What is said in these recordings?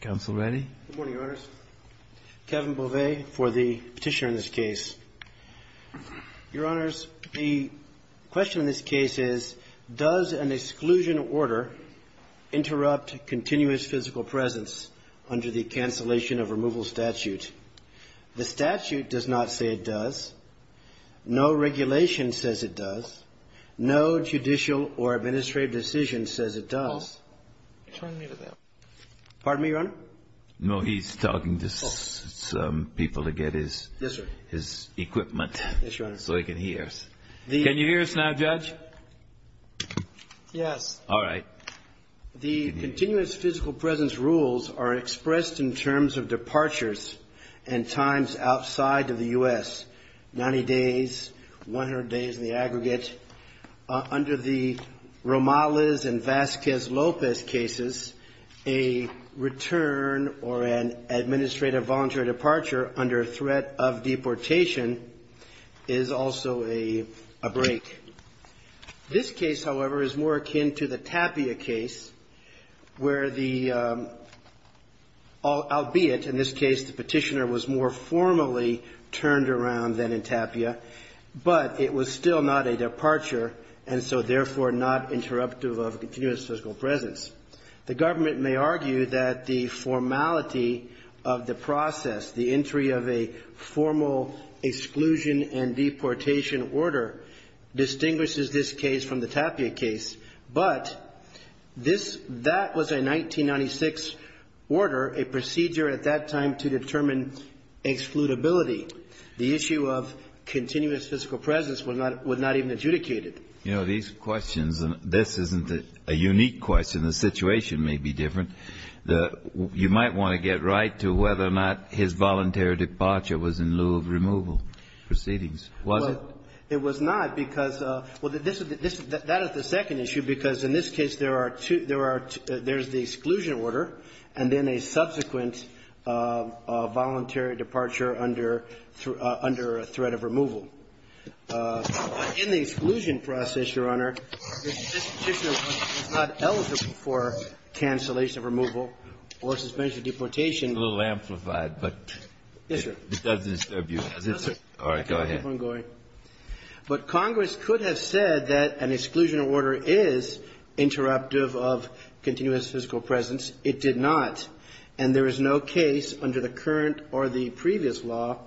Good morning, Your Honors. Kevin Beauvais for the petitioner in this case. Your Honors, the question in this case is, does an exclusion order interrupt continuous physical presence under the cancellation of removal statute? The statute does not say it does. No regulation says it does. No judicial or administrative decision says it does. Pardon me, Your Honor? No, he's talking to some people to get his equipment so he can hear us. Can you hear us now, Judge? Yes. All right. The continuous physical presence rules are expressed in terms of departures and times outside of the U.S., 90 days, 100 days in the aggregate. Under the Romales and Vasquez-Lopez cases, a return or an administrative voluntary departure under threat of deportation is also a break. This case, however, is more akin to the Tapia case where the, albeit in this case the petitioner was more formally turned around than in Tapia, but it was still not a departure, and so therefore not interruptive of continuous physical presence. The government may argue that the formality of the process, the entry of a formal exclusion and deportation order, distinguishes this case from the Tapia case, but this, that was a 1996 order, a procedure at that time to determine excludability. The issue of continuous physical presence was not even adjudicated. You know, these questions, and this isn't a unique question. The situation may be different. You might want to get right to whether or not his voluntary departure was in lieu of removal proceedings. Was it? It was not because of the this is the, that is the second issue because in this case there are two, there are, there's the exclusion order and then a subsequent voluntary departure under, under threat of removal. In the exclusion process, Your Honor, this petitioner is not eligible for cancellation of removal or suspension of deportation. It's a little amplified, but. Yes, sir. This doesn't disturb you, does it, sir? All right, go ahead. I can keep on going. But Congress could have said that an exclusion order is interruptive of continuous physical presence. It did not. And there is no case under the current or the previous law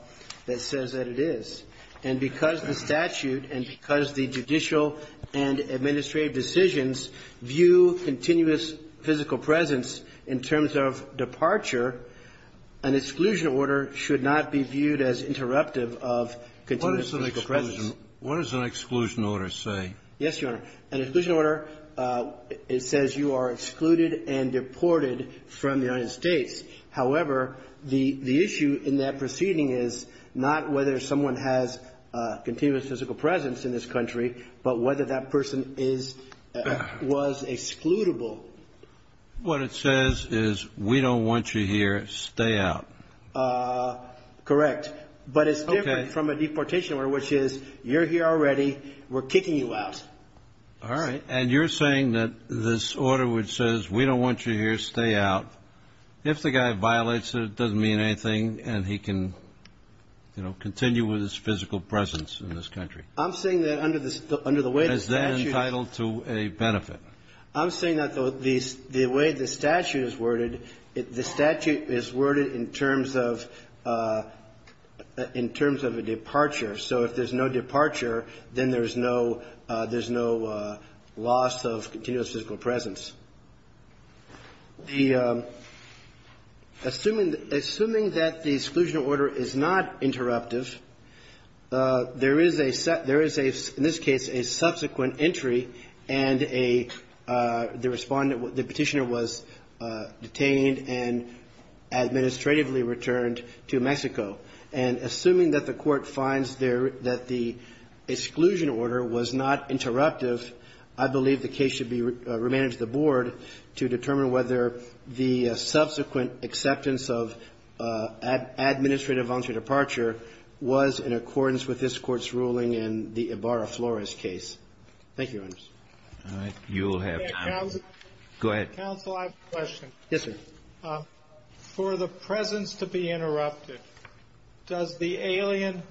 that says that it is. And because the statute and because the judicial and administrative decisions view continuous physical presence in terms of departure, an exclusion order should not be viewed as interruptive of continuous physical presence. What does an exclusion order say? Yes, Your Honor. An exclusion order, it says you are excluded and deported from the United States. However, the issue in that proceeding is not whether someone has continuous physical presence in this country, but whether that person is, was excludable. What it says is we don't want you here. Stay out. Correct. But it's different from a deportation order, which is you're here already. We're kicking you out. All right. And you're saying that this order which says we don't want you here, stay out, if the guy violates it, it doesn't mean anything, and he can, you know, continue with his physical presence in this country. I'm saying that under the way the statute Is that entitled to a benefit? I'm saying that the way the statute is worded, the statute is worded in terms of a departure. So if there's no departure, then there's no loss of continuous physical presence. Assuming that the exclusion order is not interruptive, there is a, in this case, a subsequent entry and a, the Respondent, the Petitioner was detained and administratively returned to Mexico. And assuming that the Court finds there, that the exclusion order was not interruptive, I believe the case should be remanded to the Board to determine whether the subsequent acceptance of administrative voluntary departure was in accordance with this Court's decision in the Ibarra-Flores case. Thank you, Your Honor. You'll have time. Go ahead. Counsel, I have a question. Yes, sir. For the presence to be interrupted, does the alien,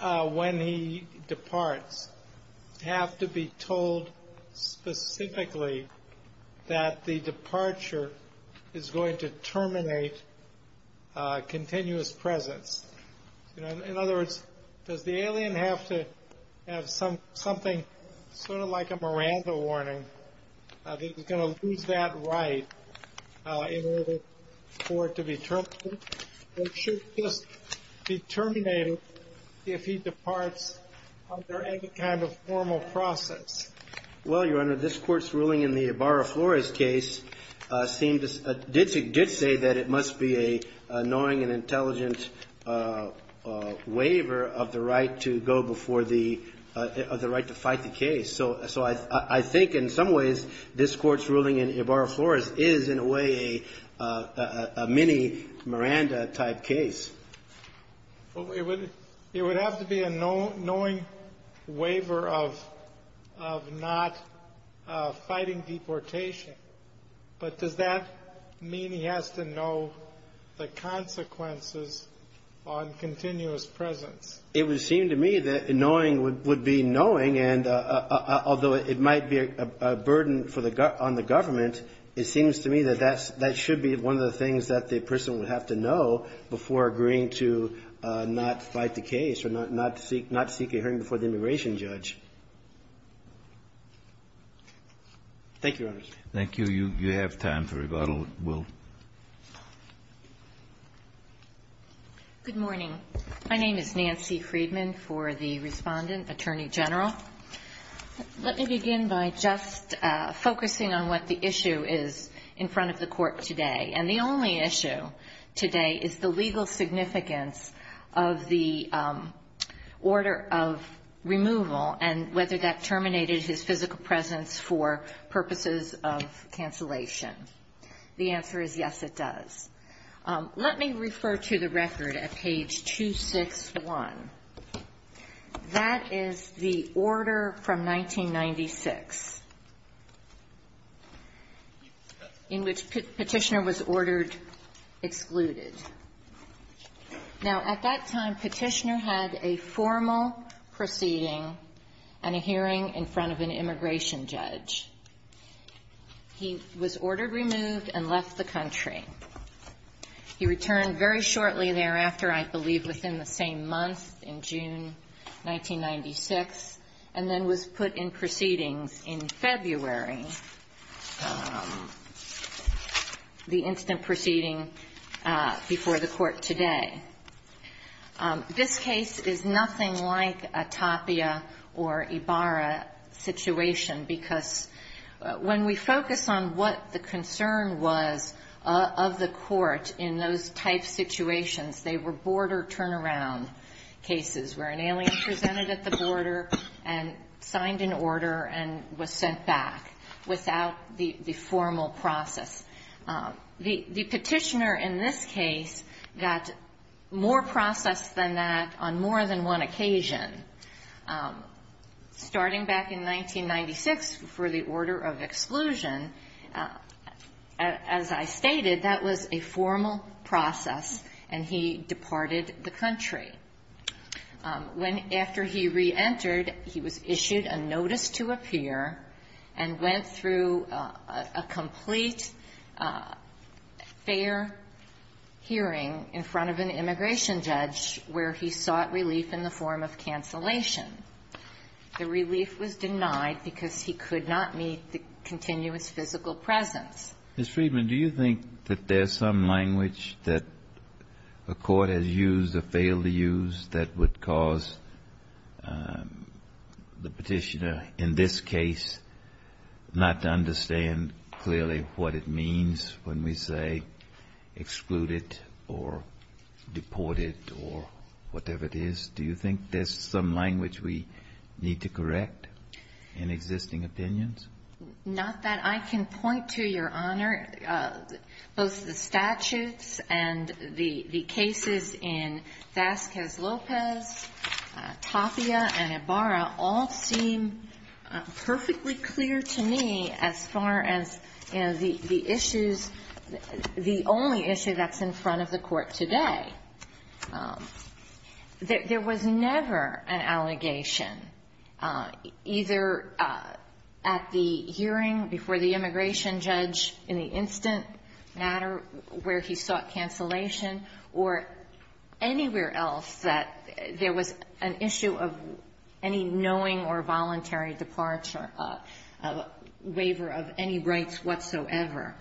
when he departs, have to be told specifically that the departure is going to terminate continuous presence? In other words, does the alien have to have something sort of like a Miranda warning that he's going to lose that right in order for it to be terminated? Or should this be terminated if he departs under any kind of formal process? Well, Your Honor, this Court's ruling in the Ibarra-Flores case seemed to, did say that it must be a knowing and intelligent waiver of the right to go before the, of the right to fight the case. So I think in some ways, this Court's ruling in Ibarra-Flores is in a way a mini Miranda-type case. It would have to be a knowing waiver of not fighting deportation. But does that mean he has to know the consequences on continuous presence? It would seem to me that knowing would be knowing, and although it might be a burden for the, on the government, it seems to me that that's, that should be one of the things that the person would have to know before agreeing to not fight the case or not seek, not seek a hearing before the immigration judge. Thank you, Your Honor. Thank you. You, you have time for rebuttal, Will. Good morning. My name is Nancy Friedman for the Respondent Attorney General. Let me begin by just focusing on what the issue is in front of the Court today. And the only issue today is the legal significance of the order of removal and whether that terminated his physical presence for purposes of cancellation. The answer is yes, it does. Let me refer to the record at page 261. That is the order from 1996 in which Petitioner was ordered excluded. Now, at that time, Petitioner had a formal proceeding and a hearing in front of an immigration judge. He was ordered removed and left the country. He returned very shortly thereafter, I believe within the same month, in June 1996, and then was put in proceedings in February. This is the incident proceeding before the Court today. This case is nothing like a Tapia or Ibarra situation, because when we focus on what the concern was of the Court in those type situations, they were border turnaround cases, where an alien presented at the border and signed an order and was sent back. Without the formal process. The Petitioner in this case got more process than that on more than one occasion. Starting back in 1996 for the order of exclusion, as I stated, that was a formal process, and he departed the country. When, after he re-entered, he was issued a notice to appear and went through a complete fair hearing in front of an immigration judge, where he sought relief in the form of cancellation. The relief was denied because he could not meet the continuous physical presence. Mr. Friedman, do you think that there's some language that a court has used or failed to use that would cause the Petitioner, in this case, not to understand clearly what it means when we say excluded or deported or whatever it is? Do you think there's some language we need to correct in existing opinions? Not that I can point to, Your Honor. Both the statutes and the cases in Vasquez-Lopez, Tapia, and Ibarra all seem perfectly clear to me as far as the issues, the only issue that's in front of the court today. There was never an allegation, either at the hearing before the immigration judge in the instant matter where he sought cancellation or anywhere else that there was an issue of any knowing or voluntary departure of a waiver of any rights whatsoever.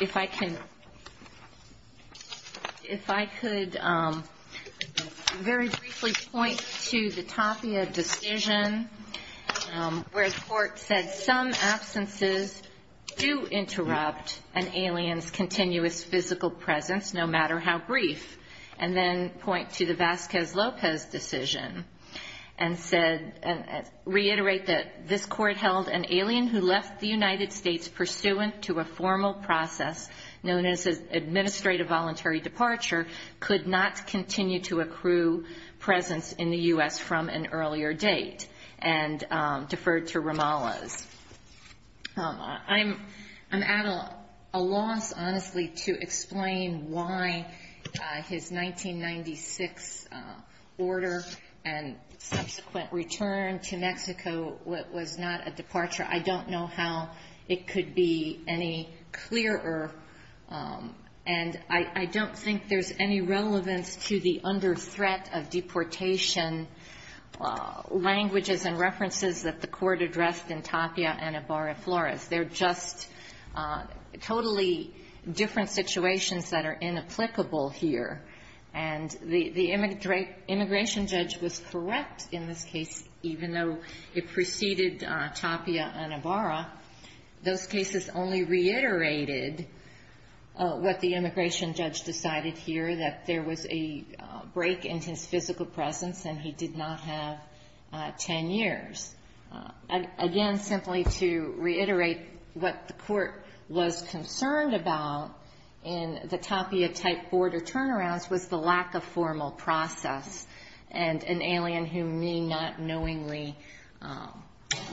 If I could very briefly point to the Tapia decision where the court said some absences do interrupt an alien's continuous physical presence, no matter how brief, and then point to the Vasquez-Lopez decision and reiterate that this court held an alien's continuous physical presence. The United States, pursuant to a formal process known as an administrative voluntary departure, could not continue to accrue presence in the U.S. from an earlier date and deferred to Ramalla's. I'm at a loss, honestly, to explain why his 1996 order and subsequent return to Ramalla, it could be any clearer. And I don't think there's any relevance to the under threat of deportation languages and references that the court addressed in Tapia and Ibarra-Flores. They're just totally different situations that are inapplicable here. And the immigration judge was correct in this case, even though it preceded Tapia and Ibarra, those cases only reiterated what the immigration judge decided here, that there was a break in his physical presence and he did not have 10 years. Again, simply to reiterate what the court was concerned about in the Tapia-type border turnarounds was the lack of formal process and an alien who may not knowingly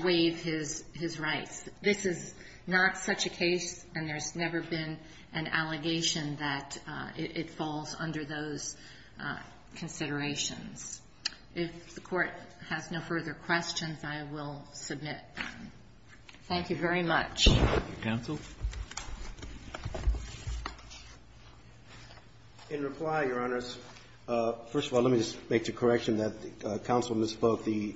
waive his rights. This is not such a case and there's never been an allegation that it falls under those considerations. If the court has no further questions, I will submit. Thank you very much. Roberts. Counsel? In reply, Your Honors, first of all, let me just make the correction that counsel spoke, the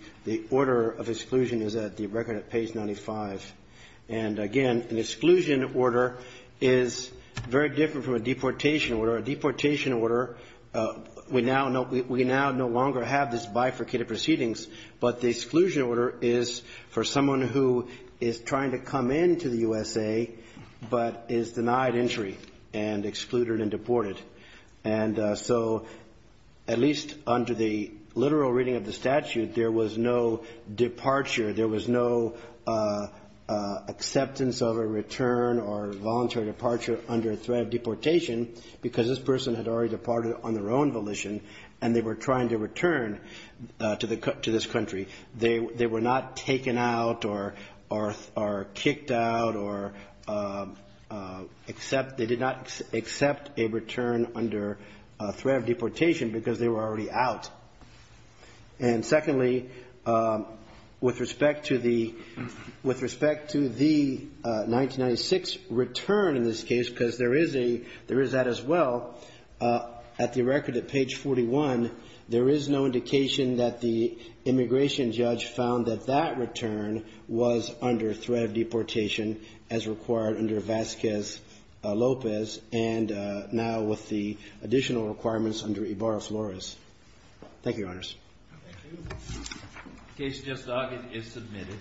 order of exclusion is at the record at page 95. And again, an exclusion order is very different from a deportation order. A deportation order, we now no longer have this bifurcated proceedings, but the exclusion order is for someone who is trying to come into the USA, but is denied entry and excluded and deported. And so at least under the literal reading of the statute, there was no departure. There was no acceptance of a return or voluntary departure under threat of deportation because this person had already departed on their own volition and they were trying to return to this country. They were not taken out or kicked out or they did not accept a return under threat of deportation because they were already out. And secondly, with respect to the 1996 return in this case, because there is that as well, at the record at page 41, there is no indication that the immigration judge found that that return was under threat of deportation as required under Vasquez-Lopez and now with the additional requirements under Ibarra-Flores. Thank you, Your Honors. Thank you. The case is just dogged. It is submitted.